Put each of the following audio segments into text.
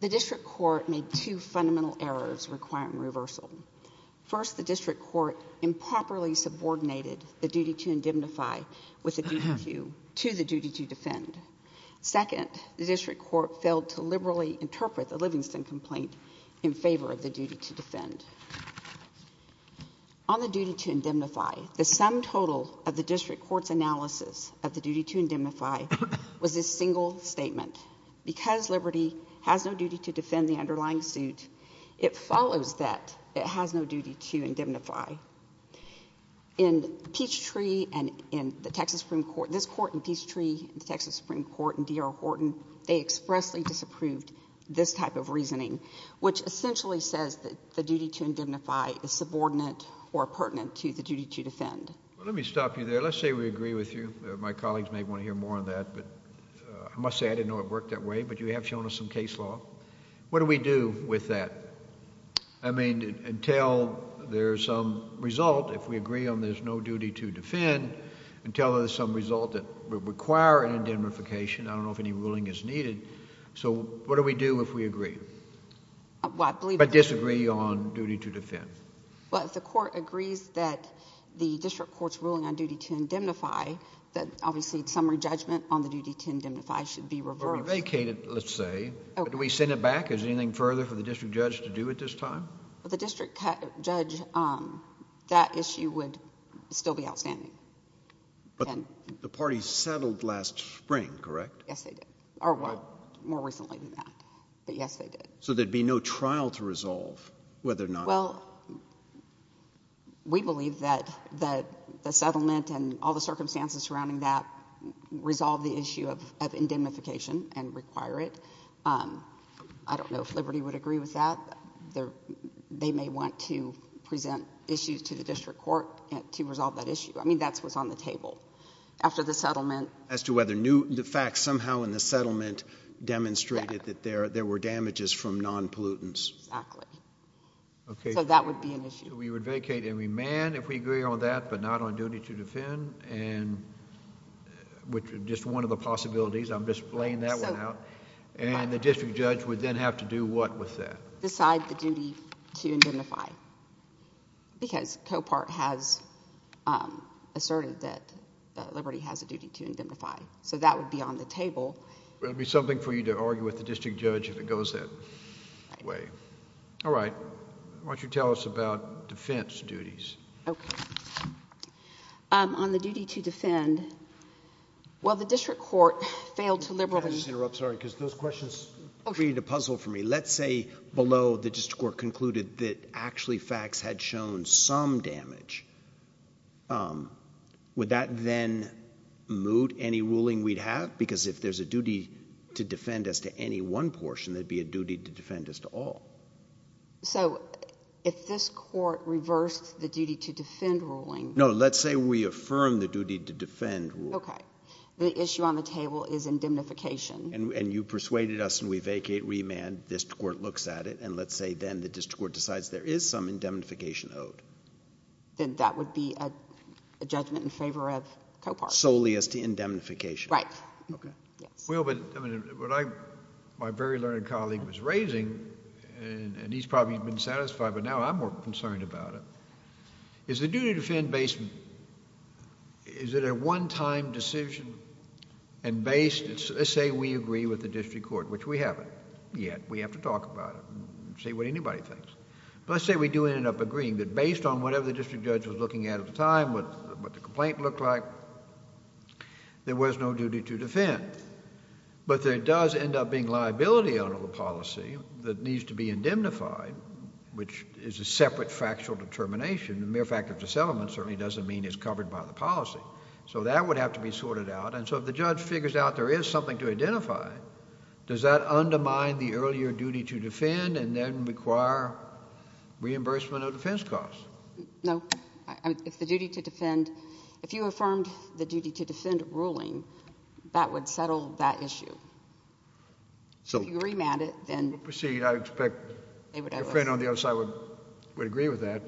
The District Court made two fundamental errors requiring reversal. First, the District Court improperly subordinated the duty to indemnify to the duty to defend. Second, the District Court failed to liberally interpret the Livingston complaint in favor of the duty to defend. On the duty to indemnify, the sum total of the District Court's analysis of the duty to indemnify was this single statement. Because Liberty has no duty to defend the underlying suit, it follows that it has no duty to indemnify. In Peachtree and in the Texas Supreme Court, this Court in Peachtree and the Texas Supreme Court in D.R. Horton, they expressly disapproved this type of reasoning, which essentially says that the duty to indemnify is subordinate or pertinent to the duty to defend. Well, let me stop you there. Let's say we agree with you. My colleagues may want to hear more on that, but I must say I didn't know it worked that way, but you have shown us some case law. What do we do with that? I mean, until there's some result, if we agree on there's no duty to defend, until there's some result that would require an indemnification, I don't know if any ruling is needed, so what do we do if we agree, but disagree on duty to defend? Well, if the Court agrees that the District Court's ruling on duty to indemnify, then obviously summary judgment on the duty to indemnify should be reversed. But we vacated, let's say. Do we send it back? Is there anything further for the District Judge to do at this time? Well, the District Judge, that issue would still be outstanding. But the party settled last spring, correct? Yes, they did. Or, well, more recently than that. But yes, they did. So there'd be no trial to resolve, whether or not… Well, we believe that the settlement and all the circumstances surrounding that resolve the issue of indemnification and require it. I don't know if Liberty would agree with that. They may want to present issues to the District Court to resolve that issue. I mean, that's what's on the table. As to whether new facts somehow in the settlement demonstrated that there were damages from non-pollutants. Exactly. So that would be an issue. We would vacate and remand if we agree on that, but not on duty to defend, which is just one of the possibilities. I'm just laying that one out. And the District Judge would then have to do what with that? Decide the duty to indemnify, because Copart has asserted that Liberty has a duty to indemnify. So that would be on the table. It would be something for you to argue with the District Judge if it goes that way. All right. Why don't you tell us about defense duties? Okay. On the duty to defend, well, the District Court failed to liberally… Well, the District Court concluded that actually facts had shown some damage. Would that then moot any ruling we'd have? Because if there's a duty to defend as to any one portion, there'd be a duty to defend as to all. So if this Court reversed the duty to defend ruling… No, let's say we affirm the duty to defend ruling. Okay. The issue on the table is indemnification. And you persuaded us and we vacate, remand, District Court looks at it, and let's say then the District Court decides there is some indemnification owed. Then that would be a judgment in favor of Copart. Solely as to indemnification. Right. Okay. Well, but what my very learned colleague was raising, and he's probably been satisfied, but now I'm more concerned about it, is the duty to defend based… Is it a one-time decision and based… Let's say we agree with the District Court, which we haven't yet. We have to talk about it and see what anybody thinks. But let's say we do end up agreeing that based on whatever the district judge was looking at at the time, what the complaint looked like, there was no duty to defend. But there does end up being liability under the policy that needs to be indemnified, which is a separate factual determination. The mere fact of dissent certainly doesn't mean it's covered by the policy. So that would have to be sorted out. And so if the judge figures out there is something to identify, does that undermine the earlier duty to defend and then require reimbursement of defense costs? No. It's the duty to defend. If you affirmed the duty to defend ruling, that would settle that issue. So… If you remand it, then… We'll proceed. I expect a friend on the other side would agree with that.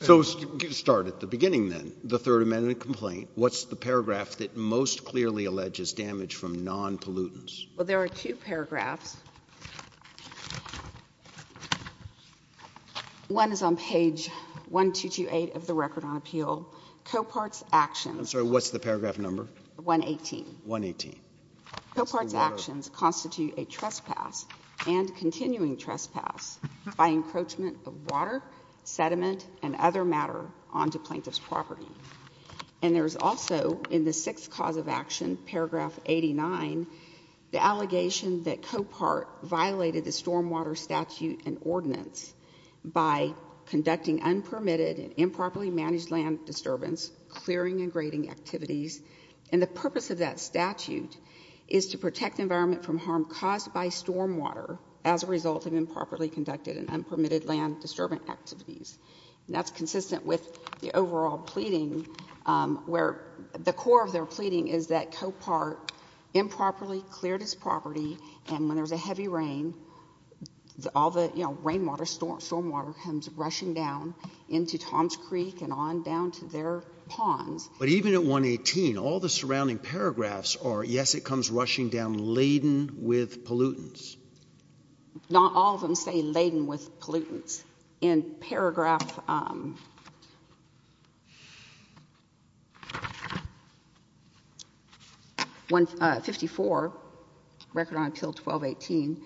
So let's start at the beginning then. The Third Amendment complaint, what's the paragraph that most clearly alleges damage from non-pollutants? Well, there are two paragraphs. One is on page 1228 of the Record on Appeal. Coparts actions… I'm sorry, what's the paragraph number? 118. 118. Coparts actions constitute a trespass and continuing trespass by encroachment of water, sediment, and other matter onto plaintiff's property. And there's also in the sixth cause of action, paragraph 89, the allegation that Copart violated the stormwater statute and ordinance by conducting unpermitted and improperly managed land disturbance, clearing and grading activities. And the purpose of that statute is to protect the environment from harm caused by stormwater as a result of improperly conducted and unpermitted land disturbance activities. And that's consistent with the overall pleading where the core of their pleading is that Copart improperly cleared his property and when there's a heavy rain, all the rainwater, stormwater comes rushing down into Tom's Creek and on down to their ponds. But even at 118, all the surrounding paragraphs are, yes, it comes rushing down laden with pollutants. Not all of them say laden with pollutants. In paragraph 54, record on appeal 1218,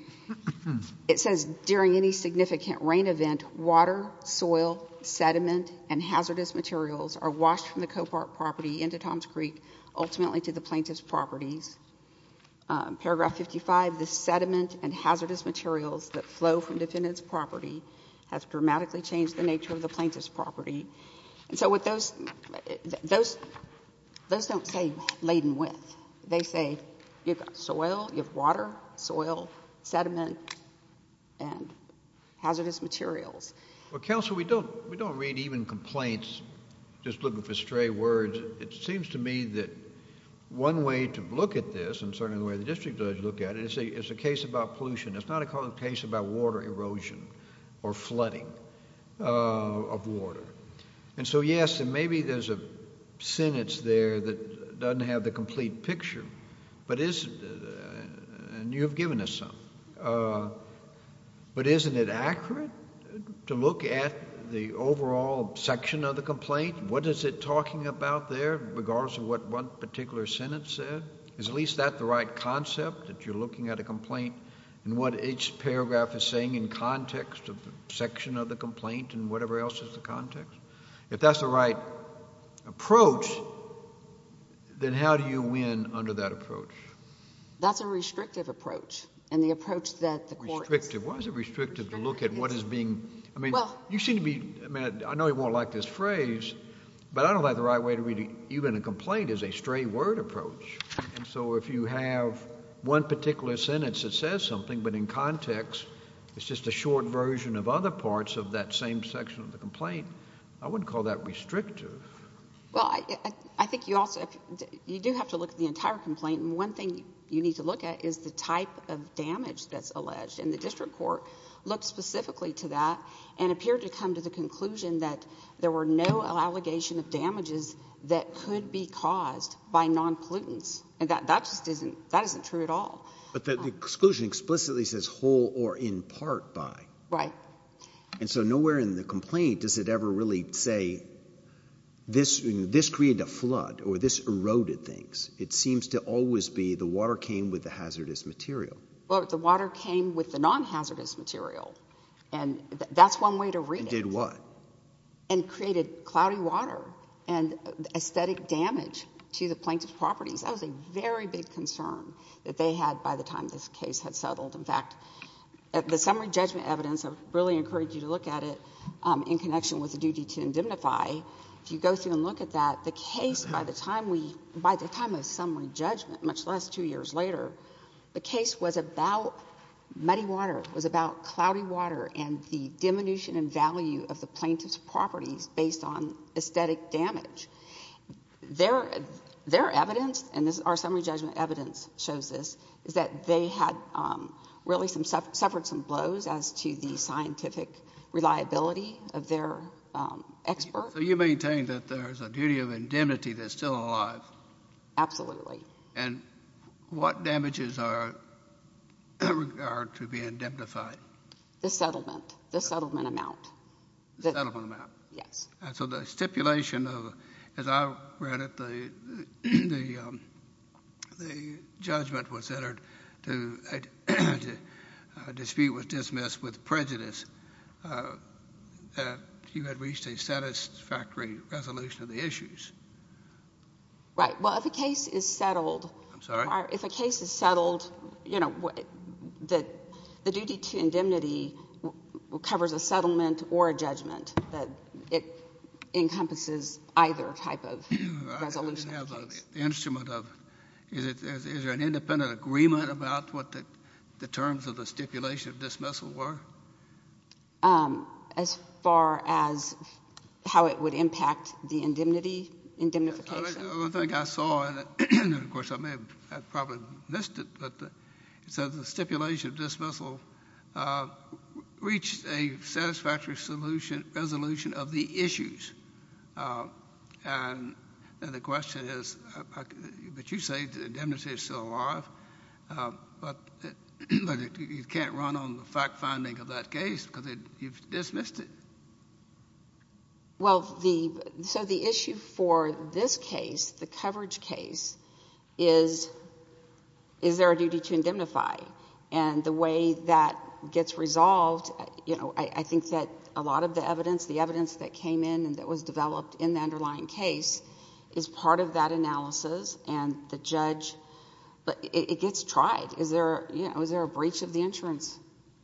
it says during any significant rain event, water, soil, sediment, and hazardous materials are washed from the Copart property into Tom's Creek, ultimately to the plaintiff's properties. Paragraph 55, the sediment and hazardous materials that flow from defendant's property has dramatically changed the nature of the plaintiff's property. And so with those, those don't say laden with. They say you've got soil, you have water, soil, sediment, and hazardous materials. Well, counsel, we don't, we don't read even complaints, just looking for stray words. It seems to me that one way to look at this, and certainly the way the district judge looked at it, it's a, it's a case about pollution. It's not a case about water erosion or flooding of water. And so, yes, and maybe there's a sentence there that doesn't have the complete picture, but is, and you've given us some. But isn't it accurate to look at the overall section of the complaint? What is it talking about there, regardless of what one particular sentence said? Is at least that the right concept, that you're looking at a complaint and what each paragraph is saying in context of the section of the complaint and whatever else is the context? If that's the right approach, then how do you win under that approach? That's a restrictive approach, and the approach that the court is. Restrictive, why is it restrictive to look at what is being, I mean, you seem to be, I mean, I know you won't like this phrase, but I don't think the right way to read even a complaint is a stray word approach. And so if you have one particular sentence that says something, but in context, it's just a short version of other parts of that same section of the complaint, I wouldn't call that restrictive. Well, I think you also, you do have to look at the entire complaint. And one thing you need to look at is the type of damage that's alleged. And the district court looked specifically to that and appeared to come to the conclusion that there were no allegations of damages that could be caused by non-pollutants. And that just isn't, that isn't true at all. But the exclusion explicitly says whole or in part by. Right. And so nowhere in the complaint does it ever really say this created a flood or this eroded things. It seems to always be the water came with the hazardous material. Well, the water came with the non-hazardous material, and that's one way to read it. It did what? And created cloudy water and aesthetic damage to the plaintiff's properties. That was a very big concern that they had by the time this case had settled. In fact, the summary judgment evidence, I really encourage you to look at it in connection with the duty to indemnify. If you go through and look at that, the case, by the time we, by the time of summary judgment, much less two years later, the case was about muddy water. It was about cloudy water and the diminution in value of the plaintiff's properties based on aesthetic damage. Their evidence, and our summary judgment evidence shows this, is that they had really suffered some blows as to the scientific reliability of their expert. So you maintain that there's a duty of indemnity that's still alive? Absolutely. And what damages are to be indemnified? The settlement, the settlement amount. The settlement amount. Yes. So the stipulation, as I read it, the judgment was entered to dispute was dismissed with prejudice that you had reached a satisfactory resolution of the issues. Right. Well, if a case is settled. I'm sorry? It encompasses either type of resolution. The instrument of, is there an independent agreement about what the terms of the stipulation of dismissal were? As far as how it would impact the indemnity, indemnification? One thing I saw, and of course I may have probably missed it, but it says the stipulation of dismissal reached a satisfactory resolution of the issues. And the question is, but you say the indemnity is still alive, but you can't run on the fact finding of that case because you've dismissed it. Well, so the issue for this case, the coverage case, is there a duty to indemnify? And the way that gets resolved, I think that a lot of the evidence, the evidence that came in and that was developed in the underlying case, is part of that analysis. And the judge, it gets tried. Is there a breach of the insurance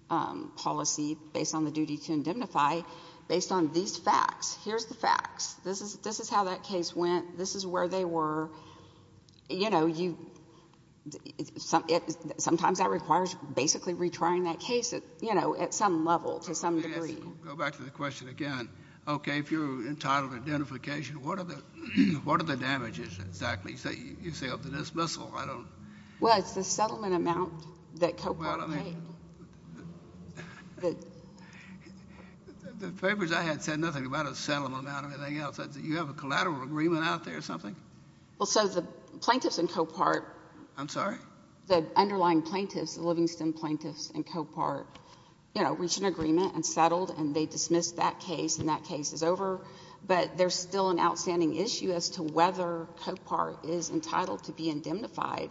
policy based on the duty to indemnify based on these facts? Here's the facts. This is how that case went. This is where they were. Sometimes that requires basically retrying that case at some level to some degree. Go back to the question again. Okay, if you're entitled to indemnification, what are the damages exactly? You say of the dismissal. Well, it's the settlement amount that Copart paid. The papers I had said nothing about a settlement amount or anything else. You have a collateral agreement out there or something? Well, so the plaintiffs in Copart. I'm sorry? The underlying plaintiffs, the Livingston plaintiffs in Copart, you know, reached an agreement and settled, and they dismissed that case, and that case is over. But there's still an outstanding issue as to whether Copart is entitled to be indemnified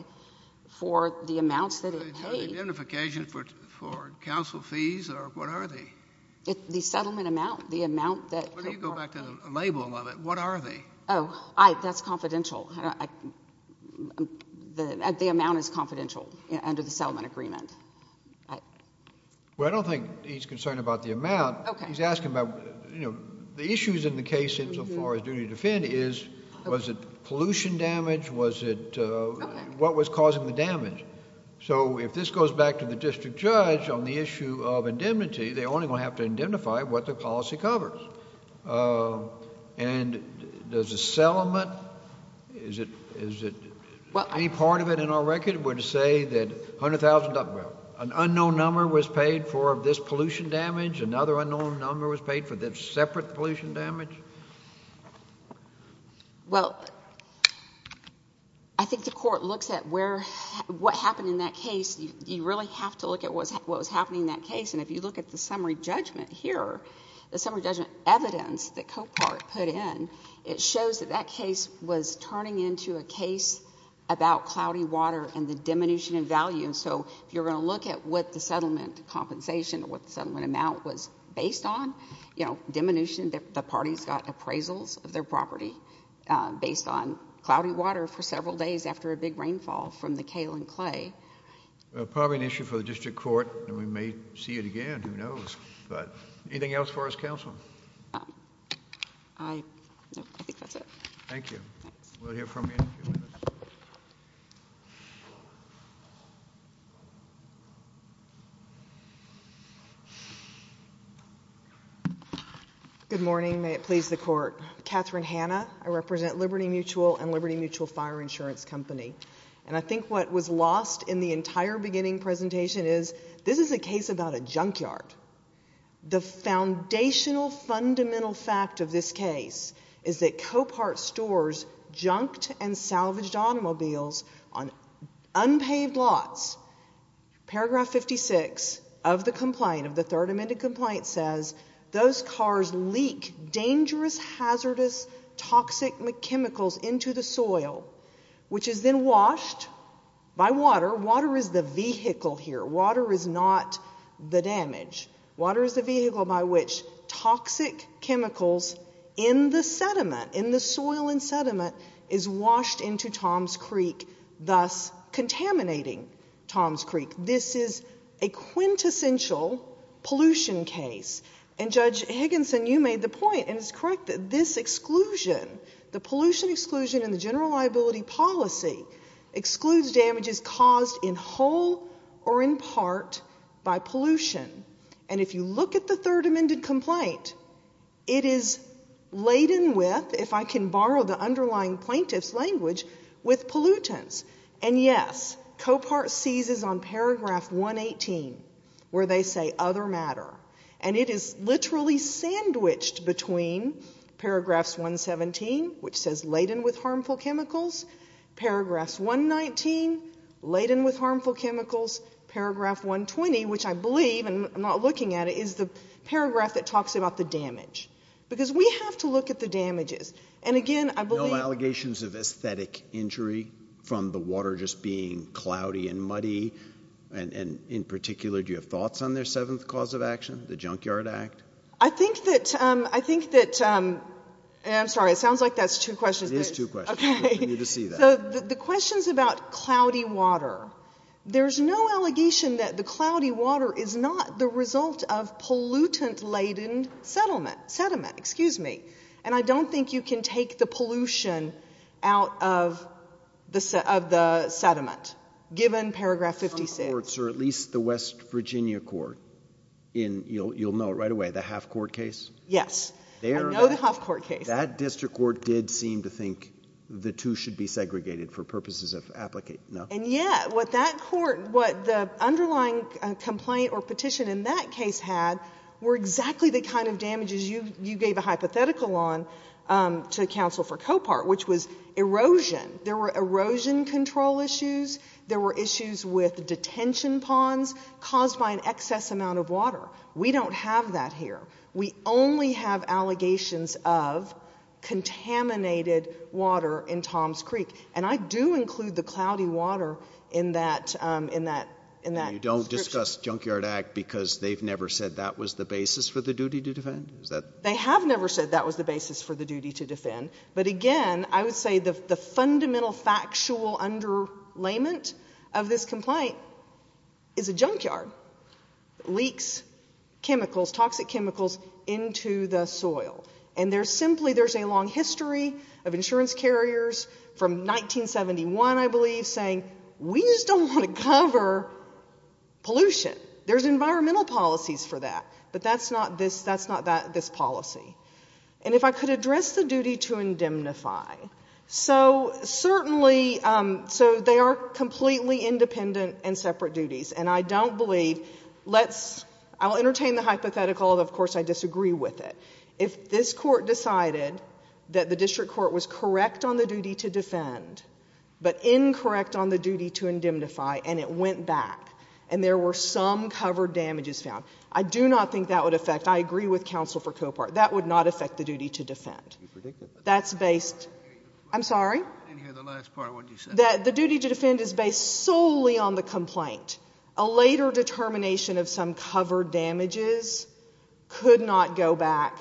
for the amounts that it paid. Are they entitled to indemnification for counsel fees or what are they? The settlement amount, the amount that Copart paid. When you go back to the label of it, what are they? Oh, that's confidential. The amount is confidential under the settlement agreement. Well, I don't think he's concerned about the amount. Okay. He's asking about, you know, the issues in the case insofar as duty to defend is, was it pollution damage? Was it what was causing the damage? So if this goes back to the district judge on the issue of indemnity, they're only going to have to indemnify what the policy covers. And does the settlement, is it, any part of it in our record would say that $100,000, well, an unknown number was paid for this pollution damage, another unknown number was paid for this separate pollution damage? Well, I think the court looks at where, what happened in that case. You really have to look at what was happening in that case. And if you look at the summary judgment here, the summary judgment evidence that Copart put in, it shows that that case was turning into a case about cloudy water and the diminution in value. And so if you're going to look at what the settlement compensation or what the settlement amount was based on, you know, diminution, the parties got appraisals of their property based on cloudy water for several days after a big rainfall from the kale and clay. Well, probably an issue for the district court, and we may see it again. Who knows? But anything else for us, counsel? I think that's it. We'll hear from you in a few minutes. Thank you. Good morning. May it please the court. Katherine Hanna. I represent Liberty Mutual and Liberty Mutual Fire Insurance Company. And I think what was lost in the entire beginning presentation is this is a case about a junkyard. The foundational, fundamental fact of this case is that Copart stores junked and salvaged automobiles on unpaved lots. Paragraph 56 of the complaint, of the third amended complaint, says, Those cars leak dangerous, hazardous, toxic chemicals into the soil, which is then washed by water. Water is the vehicle here. Water is not the damage. Water is the vehicle by which toxic chemicals in the sediment, in the soil and sediment, is washed into Toms Creek, thus contaminating Toms Creek. This is a quintessential pollution case. And Judge Higginson, you made the point, and it's correct, that this exclusion, the pollution exclusion in the general liability policy, excludes damages caused in whole or in part by pollution. And if you look at the third amended complaint, it is laden with, if I can borrow the underlying plaintiff's language, with pollutants. And, yes, Copart seizes on paragraph 118, where they say other matter. And it is literally sandwiched between paragraphs 117, which says laden with harmful chemicals, paragraphs 119, laden with harmful chemicals, paragraph 120, which I believe, and I'm not looking at it, is the paragraph that talks about the damage. Because we have to look at the damages. No allegations of aesthetic injury from the water just being cloudy and muddy? And in particular, do you have thoughts on their seventh cause of action, the Junkyard Act? I think that, I'm sorry, it sounds like that's two questions. It is two questions. Okay. So the question's about cloudy water. There's no allegation that the cloudy water is not the result of pollutant laden sediment. Excuse me. And I don't think you can take the pollution out of the sediment, given paragraph 56. Some courts, or at least the West Virginia court in, you'll know right away, the Half Court case? Yes. I know the Half Court case. That district court did seem to think the two should be segregated for purposes of application, no? And, yeah, what that court, what the underlying complaint or petition in that case had were exactly the kind of damages you gave a hypothetical on to counsel for Copart, which was erosion. There were erosion control issues. There were issues with detention ponds caused by an excess amount of water. We don't have that here. We only have allegations of contaminated water in Tom's Creek. And I do include the cloudy water in that description. And they've used us, Junkyard Act, because they've never said that was the basis for the duty to defend? They have never said that was the basis for the duty to defend. But, again, I would say the fundamental factual underlayment of this complaint is a junkyard. It leaks chemicals, toxic chemicals, into the soil. And there's simply, there's a long history of insurance carriers from 1971, I believe, saying we just don't want to cover pollution. There's environmental policies for that. But that's not this policy. And if I could address the duty to indemnify. So, certainly, so they are completely independent and separate duties. And I don't believe, let's, I'll entertain the hypothetical, although, of course, I disagree with it. If this court decided that the district court was correct on the duty to defend, but incorrect on the duty to indemnify, and it went back, and there were some covered damages found, I do not think that would affect, I agree with counsel for Copart, that would not affect the duty to defend. That's based, I'm sorry? I didn't hear the last part of what you said. The duty to defend is based solely on the complaint. A later determination of some covered damages could not go back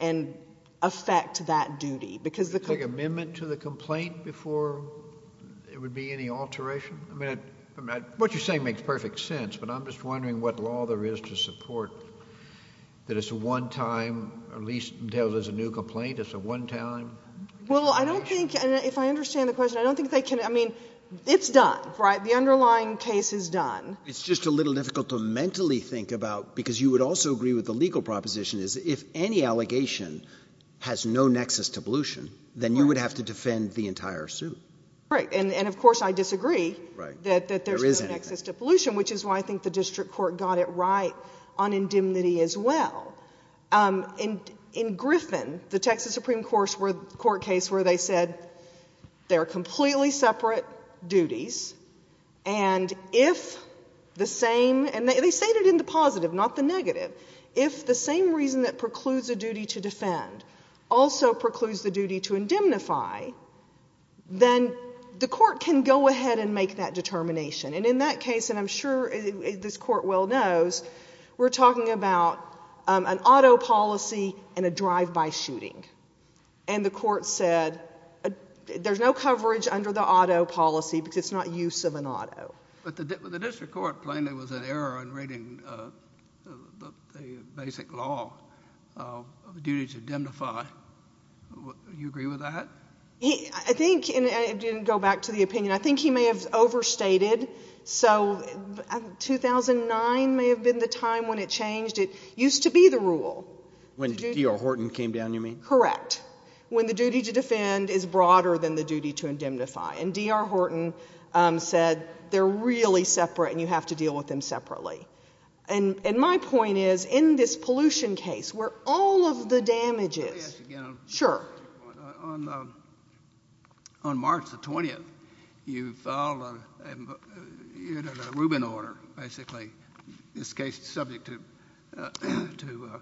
and affect that duty. It's like an amendment to the complaint before there would be any alteration? I mean, what you're saying makes perfect sense. But I'm just wondering what law there is to support that it's a one-time, at least until there's a new complaint, it's a one-time? Well, I don't think, if I understand the question, I don't think they can, I mean, it's done, right? The underlying case is done. It's just a little difficult to mentally think about, because you would also agree with the legal proposition, is if any allegation has no nexus to pollution, then you would have to defend the entire suit. Right, and of course I disagree that there's no nexus to pollution, which is why I think the district court got it right on indemnity as well. In Griffin, the Texas Supreme Court case where they said they're completely separate duties, and if the same, and they stated in the positive, not the negative, if the same reason that precludes a duty to defend also precludes the duty to indemnify, then the court can go ahead and make that determination. And in that case, and I'm sure this Court well knows, we're talking about an auto policy and a drive-by shooting. And the court said there's no coverage under the auto policy because it's not use of an auto. But the district court plainly was at error in reading the basic law of duty to indemnify. Do you agree with that? I think, and I didn't go back to the opinion, I think he may have overstated, so 2009 may have been the time when it changed. It used to be the rule. When D.R. Horton came down, you mean? Correct. When the duty to defend is broader than the duty to indemnify. And D.R. Horton said they're really separate and you have to deal with them separately. And my point is, in this pollution case where all of the damage is. Let me ask you again. Sure. On March the 20th, you filed a Rubin order, basically. This case is subject to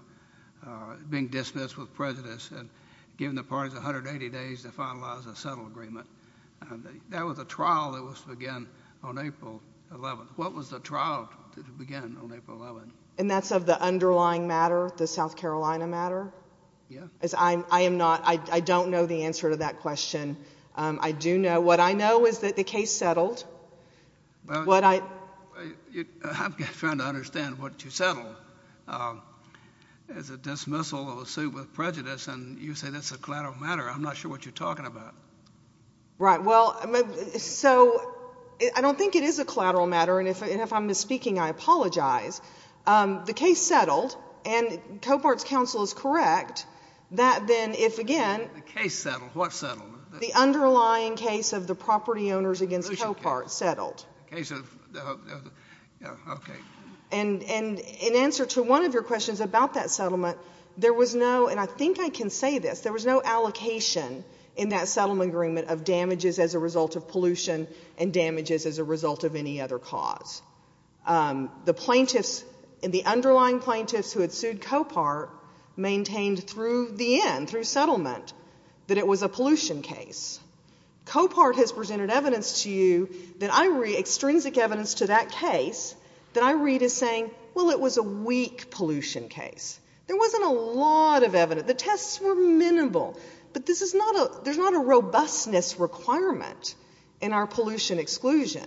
being dismissed with prejudice and giving the parties 180 days to finalize a settle agreement. That was a trial that was to begin on April 11th. What was the trial to begin on April 11th? And that's of the underlying matter, the South Carolina matter? Yeah. I am not, I don't know the answer to that question. I do know, what I know is that the case settled. I'm trying to understand what you settled. It's a dismissal of a suit with prejudice, and you say that's a collateral matter. I'm not sure what you're talking about. Right. Well, so I don't think it is a collateral matter, and if I'm misspeaking, I apologize. The case settled, and Copart's counsel is correct, that then if, again. The case settled. What settled? The underlying case of the property owners against Copart settled. Case of, okay. And in answer to one of your questions about that settlement, there was no, and I think I can say this, there was no allocation in that settlement agreement of damages as a result of pollution and damages as a result of any other cause. The plaintiffs and the underlying plaintiffs who had sued Copart maintained through the end, through settlement, that it was a pollution case. Copart has presented evidence to you that I read, extrinsic evidence to that case, that I read as saying, well, it was a weak pollution case. There wasn't a lot of evidence. The tests were minimal. But this is not a, there's not a robustness requirement in our pollution exclusion.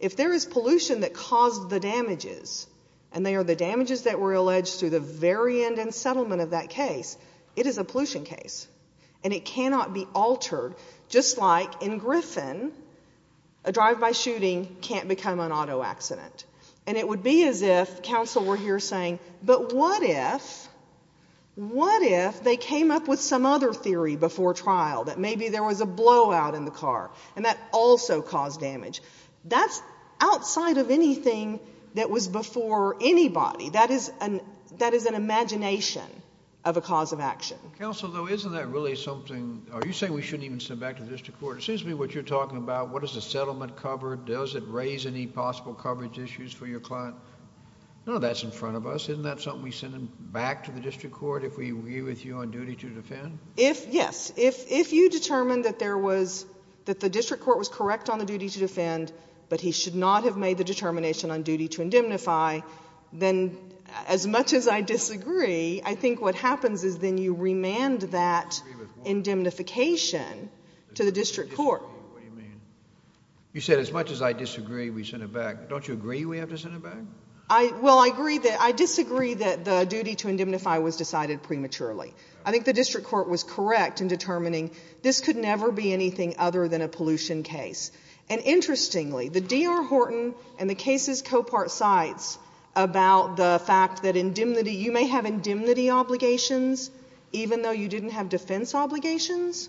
If there is pollution that caused the damages, and they are the damages that were alleged through the very end and settlement of that case, it is a pollution case, and it cannot be altered. Just like in Griffin, a drive-by shooting can't become an auto accident. And it would be as if counsel were here saying, but what if, what if they came up with some other theory before trial, that maybe there was a blowout in the car, and that also caused damage. That's outside of anything that was before anybody. That is an imagination of a cause of action. Counsel, though, isn't that really something, are you saying we shouldn't even send them back to the district court? It seems to me what you're talking about, what does the settlement cover, does it raise any possible coverage issues for your client? No, that's in front of us. Isn't that something we send them back to the district court if we agree with you on duty to defend? If, yes. If you determine that there was, that the district court was correct on the duty to defend, but he should not have made the determination on duty to indemnify, then as much as I disagree, I think what happens is then you remand that indemnification to the district court. What do you mean? You said as much as I disagree, we send it back. Don't you agree we have to send it back? Well, I agree that, I disagree that the duty to indemnify was decided prematurely. I think the district court was correct in determining this could never be anything other than a pollution case. And interestingly, the D.R. Horton and the cases Copart cites about the fact that indemnity, you may have indemnity obligations even though you didn't have defense obligations,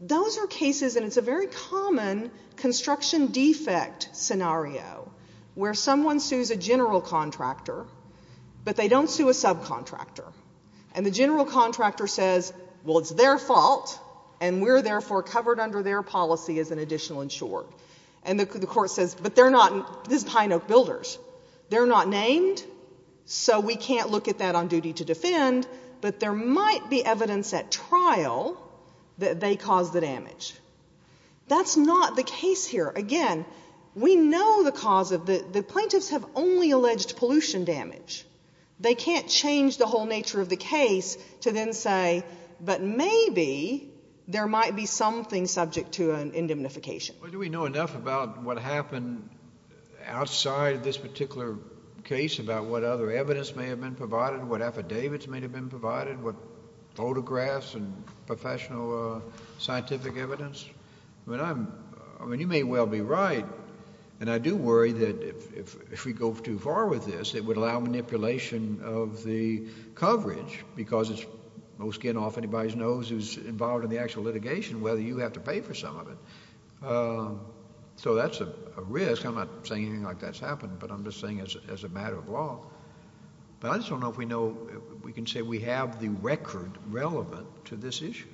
those are cases, and it's a very common construction defect scenario where someone sues a general contractor, but they don't sue a subcontractor. And the general contractor says, well, it's their fault, and we're therefore covered under their policy as an additional insurer. And the court says, but they're not, this is Pine Oak Builders. They're not named, so we can't look at that on duty to defend, but there might be evidence at trial that they caused the damage. That's not the case here. Again, we know the cause of the, the plaintiffs have only alleged pollution damage. They can't change the whole nature of the case to then say, but maybe there might be something subject to an indemnification. Well, do we know enough about what happened outside this particular case about what other evidence may have been provided, what affidavits may have been provided, what photographs and professional scientific evidence? I mean, you may well be right, and I do worry that if we go too far with this, it would allow manipulation of the coverage because it's most getting off anybody's nose who's involved in the actual litigation whether you have to pay for some of it. So that's a risk. I'm not saying anything like that's happened, but I'm just saying as a matter of law. But I just don't know if we know, if we can say we have the record relevant to this issue.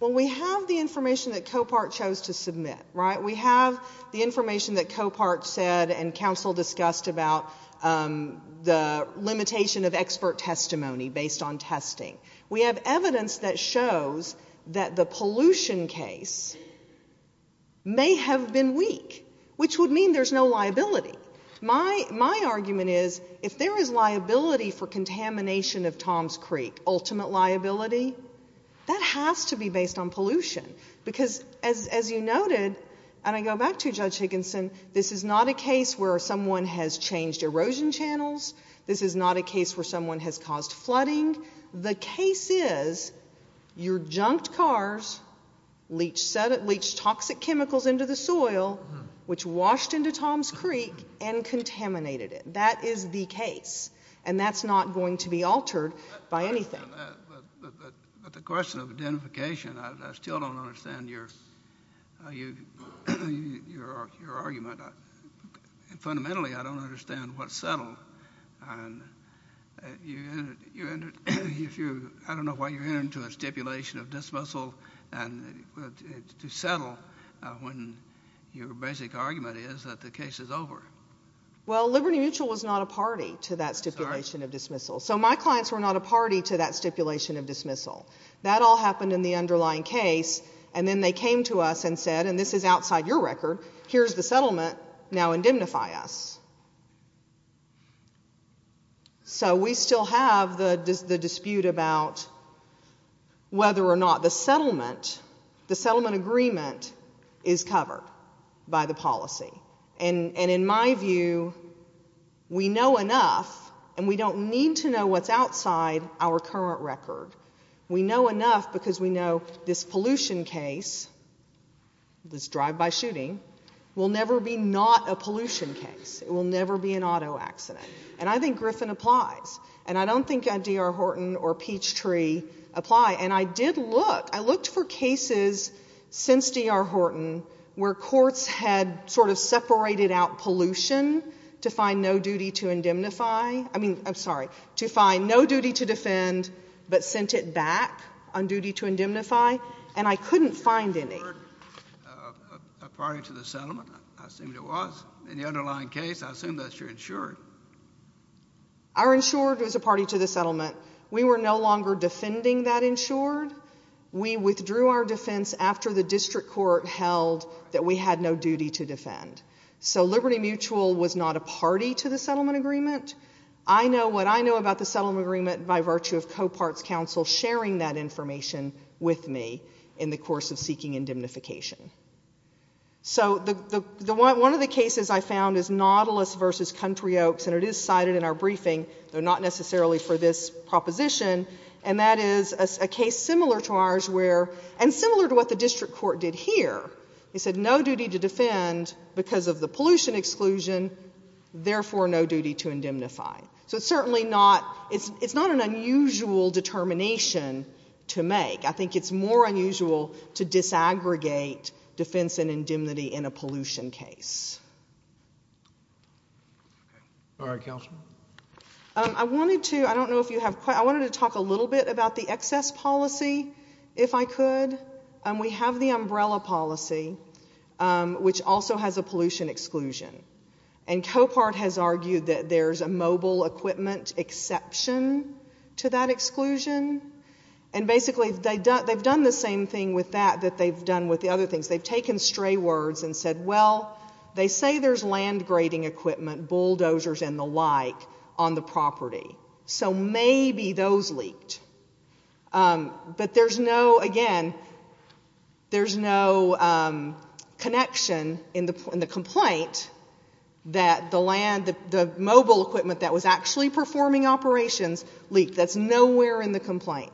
Well, we have the information that Copart chose to submit, right? We have the information that Copart said and counsel discussed about the limitation of expert testimony based on testing. We have evidence that shows that the pollution case may have been weak, which would mean there's no liability. My argument is if there is liability for contamination of Toms Creek, ultimate liability, that has to be based on pollution because as you noted, and I go back to Judge Higginson, this is not a case where someone has changed erosion channels. This is not a case where someone has caused flooding. The case is your junked cars leached toxic chemicals into the soil, which washed into Toms Creek and contaminated it. That is the case, and that's not going to be altered by anything. But the question of identification, I still don't understand your argument. Fundamentally, I don't understand what settled. I don't know why you're entering into a stipulation of dismissal to settle when your basic argument is that the case is over. Well, Liberty Mutual was not a party to that stipulation of dismissal. So my clients were not a party to that stipulation of dismissal. That all happened in the underlying case, and then they came to us and said, and this is outside your record, here's the settlement, now indemnify us. So we still have the dispute about whether or not the settlement, the settlement agreement is covered by the policy. And in my view, we know enough, and we don't need to know what's outside our current record. We know enough because we know this pollution case, this drive-by shooting, will never be not a pollution case. It will never be an auto accident. And I think Griffin applies, and I don't think D.R. Horton or Peachtree apply. And I did look. I looked for cases since D.R. Horton where courts had sort of separated out pollution to find no duty to indemnify. I mean, I'm sorry, to find no duty to defend, but sent it back on duty to indemnify. And I couldn't find any. You weren't a party to the settlement. I assumed it was. In the underlying case, I assume that's your insured. Our insured was a party to the settlement. We were no longer defending that insured. We withdrew our defense after the district court held that we had no duty to defend. So Liberty Mutual was not a party to the settlement agreement. I know what I know about the settlement agreement by virtue of Coparts Council sharing that information with me in the course of seeking indemnification. So one of the cases I found is Nautilus v. Country Oaks, and it is cited in our briefing, though not necessarily for this proposition. And that is a case similar to ours where, and similar to what the district court did here, it said no duty to defend because of the pollution exclusion, therefore no duty to indemnify. So it's certainly not, it's not an unusual determination to make. I think it's more unusual to disaggregate defense and indemnity in a pollution case. All right, Councilwoman. I wanted to, I don't know if you have, I wanted to talk a little bit about the excess policy, if I could. We have the umbrella policy, which also has a pollution exclusion. And Copart has argued that there's a mobile equipment exception to that exclusion. And basically they've done the same thing with that that they've done with the other things. They've taken stray words and said, well, they say there's land grading equipment, bulldozers and the like, on the property. So maybe those leaked. But there's no, again, there's no connection in the complaint that the land, the mobile equipment that was actually performing operations leaked. That's nowhere in the complaint.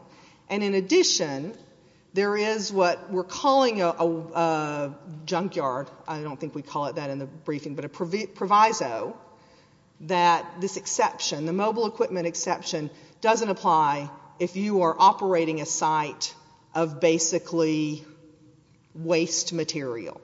And in addition, there is what we're calling a junkyard, I don't think we call it that in the briefing, but a proviso that this exception, the mobile equipment exception, doesn't apply if you are operating a site of basically waste material.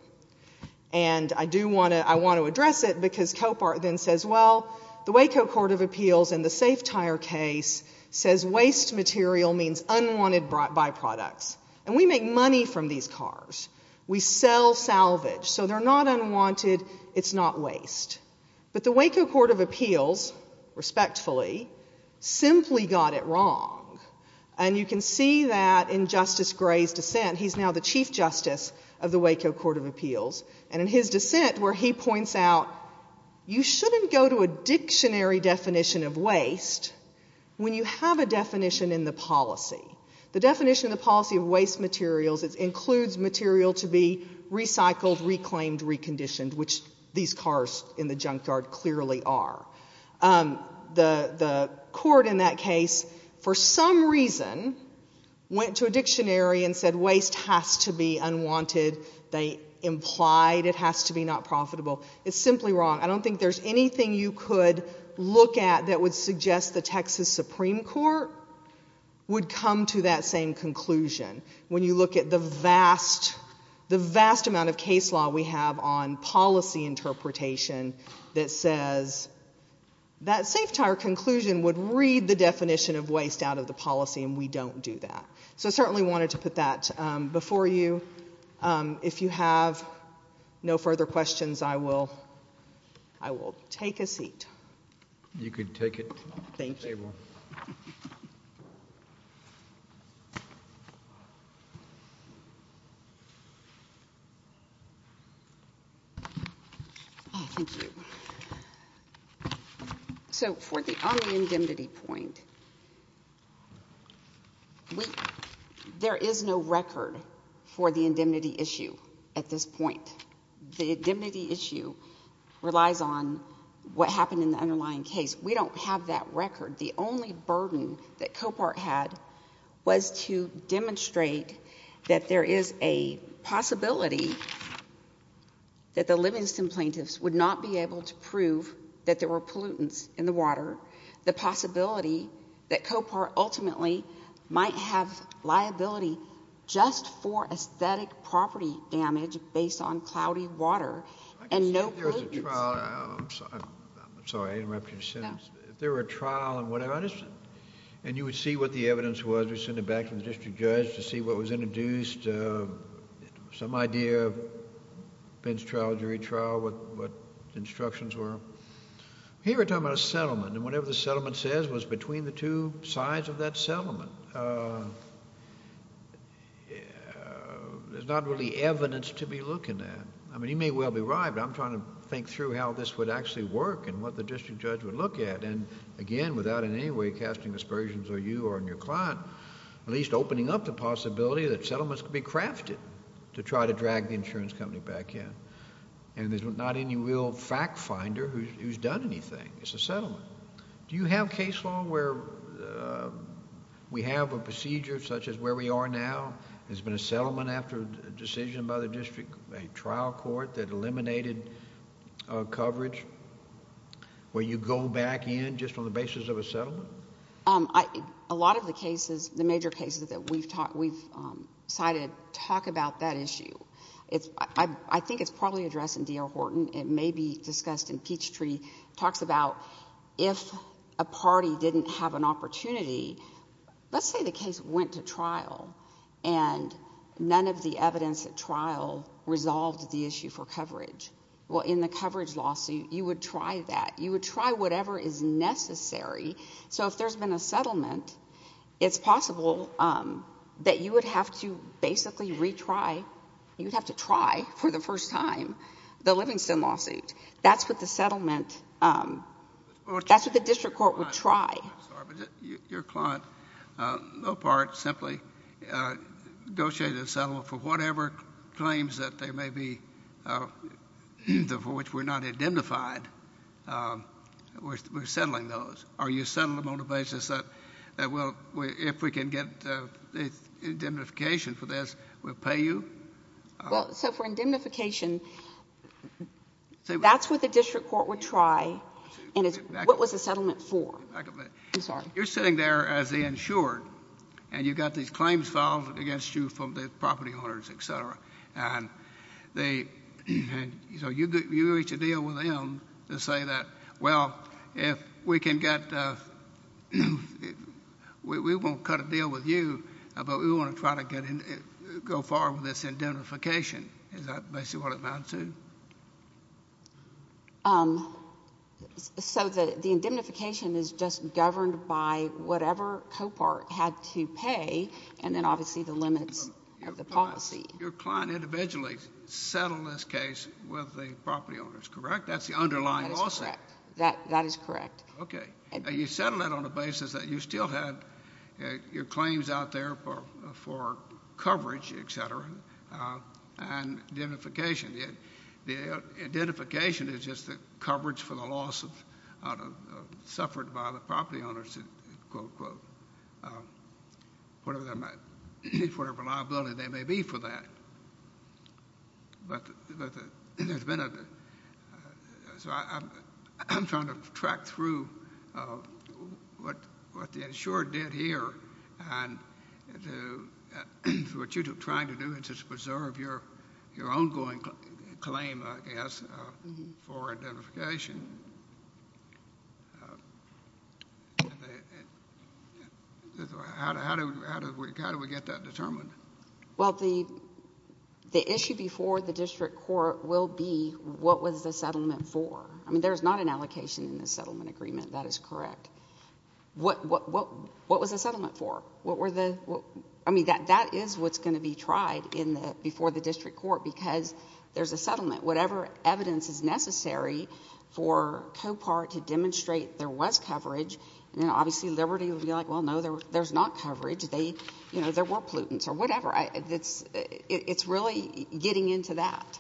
And I do want to, I want to address it because Copart then says, well, the Waco Court of Appeals in the safe tire case says waste material means unwanted byproducts. And we make money from these cars. We sell salvage. So they're not unwanted. It's not waste. But the Waco Court of Appeals, respectfully, simply got it wrong. And you can see that in Justice Gray's dissent. He's now the Chief Justice of the Waco Court of Appeals. And in his dissent where he points out you shouldn't go to a dictionary definition of waste when you have a definition in the policy. The definition of the policy of waste materials includes material to be recycled, reclaimed, reconditioned, which these cars in the junkyard clearly are. The court in that case, for some reason, went to a dictionary and said waste has to be unwanted. They implied it has to be not profitable. It's simply wrong. I don't think there's anything you could look at that would suggest the Texas Supreme Court would come to that same conclusion. When you look at the vast, the vast amount of case law we have on policy interpretation that says that safe tire conclusion would read the definition of waste out of the policy, and we don't do that. So I certainly wanted to put that before you. If you have no further questions, I will take a seat. You can take it. Thank you. Thank you. So on the indemnity point, there is no record for the indemnity issue at this point. The indemnity issue relies on what happened in the underlying case. We don't have that record. The only burden that COPART had was to demonstrate that there is a possibility that the livings and plaintiffs would not be able to prove that there were pollutants in the water, the possibility that COPART ultimately might have liability just for aesthetic property damage based on cloudy water and no pollutants. If there was a trial, I'm sorry, I interrupted your sentence. No. If there were a trial and whatever, and you would see what the evidence was. We sent it back to the district judge to see what was introduced, some idea of bench trial, jury trial, what the instructions were. Here we're talking about a settlement, and whatever the settlement says was between the two sides of that settlement. There's not really evidence to be looking at. I mean, you may well be right, but I'm trying to think through how this would actually work and what the district judge would look at. And again, without in any way casting aspersions on you or on your client, at least opening up the possibility that settlements could be crafted to try to drag the insurance company back in. And there's not any real fact finder who's done anything. It's a settlement. Do you have case law where we have a procedure such as where we are now? There's been a settlement after a decision by the district, a trial court that eliminated coverage, where you go back in just on the basis of a settlement? A lot of the cases, the major cases that we've cited talk about that issue. I think it's probably addressed in D.L. Horton. It may be discussed in Peachtree. It talks about if a party didn't have an opportunity. Let's say the case went to trial, and none of the evidence at trial resolved the issue for coverage. Well, in the coverage lawsuit, you would try that. You would try whatever is necessary. So if there's been a settlement, it's possible that you would have to basically retry. You would have to try for the first time the Livingston lawsuit. That's what the settlement, that's what the district court would try. Your client, Lopart, simply negotiated a settlement for whatever claims that there may be for which we're not indemnified. We're settling those. Are you settling them on the basis that, well, if we can get indemnification for this, we'll pay you? Well, so for indemnification, that's what the district court would try, and what was the settlement for? I'm sorry. You're sitting there as the insured, and you've got these claims filed against you from the property owners, et cetera. And so you reach a deal with them to say that, well, we won't cut a deal with you, but we want to try to go forward with this indemnification. Is that basically what it amounts to? So the indemnification is just governed by whatever Copart had to pay, and then obviously the limits of the policy. So your client individually settled this case with the property owners, correct? That's the underlying lawsuit. That is correct. Okay. You settled it on the basis that you still had your claims out there for coverage, et cetera, and indemnification. The indemnification is just the coverage for the loss suffered by the property owners, quote, unquote, whatever liability they may be for that. But there's been a ‑‑ so I'm trying to track through what the insured did here, and what you're trying to do is just preserve your ongoing claim, I guess, for indemnification. How do we get that determined? Well, the issue before the district court will be what was the settlement for. I mean, there's not an allocation in the settlement agreement. That is correct. What was the settlement for? I mean, that is what's going to be tried before the district court because there's a settlement. Whatever evidence is necessary for COPAR to demonstrate there was coverage, and obviously Liberty will be like, well, no, there's not coverage. There were pollutants or whatever. It's really getting into that.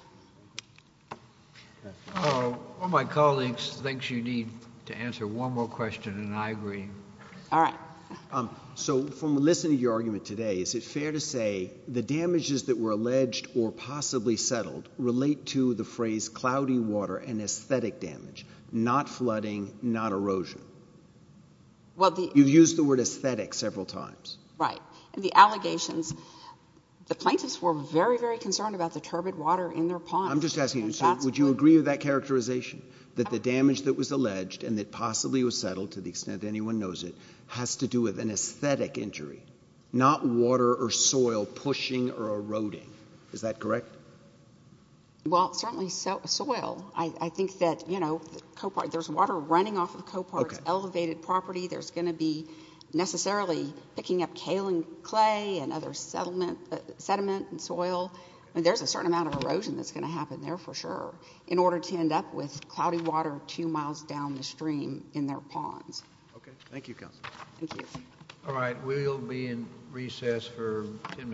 One of my colleagues thinks you need to answer one more question, and I agree. All right. So from listening to your argument today, is it fair to say the damages that were alleged or possibly settled relate to the phrase cloudy water and aesthetic damage, not flooding, not erosion? You've used the word aesthetic several times. Right. And the allegations, the plaintiffs were very, very concerned about the turbid water in their pond. I'm just asking you, would you agree with that characterization, that the damage that was alleged and that possibly was settled to the extent anyone knows it not water or soil pushing or eroding? Is that correct? Well, certainly soil. I think that, you know, there's water running off of COPAR's elevated property. There's going to be necessarily picking up kaolin clay and other sediment and soil. I mean, there's a certain amount of erosion that's going to happen there for sure in order to end up with cloudy water two miles down the stream in their ponds. Okay. Thank you, counsel. Thank you. All right. We'll be in recess for 10 minutes.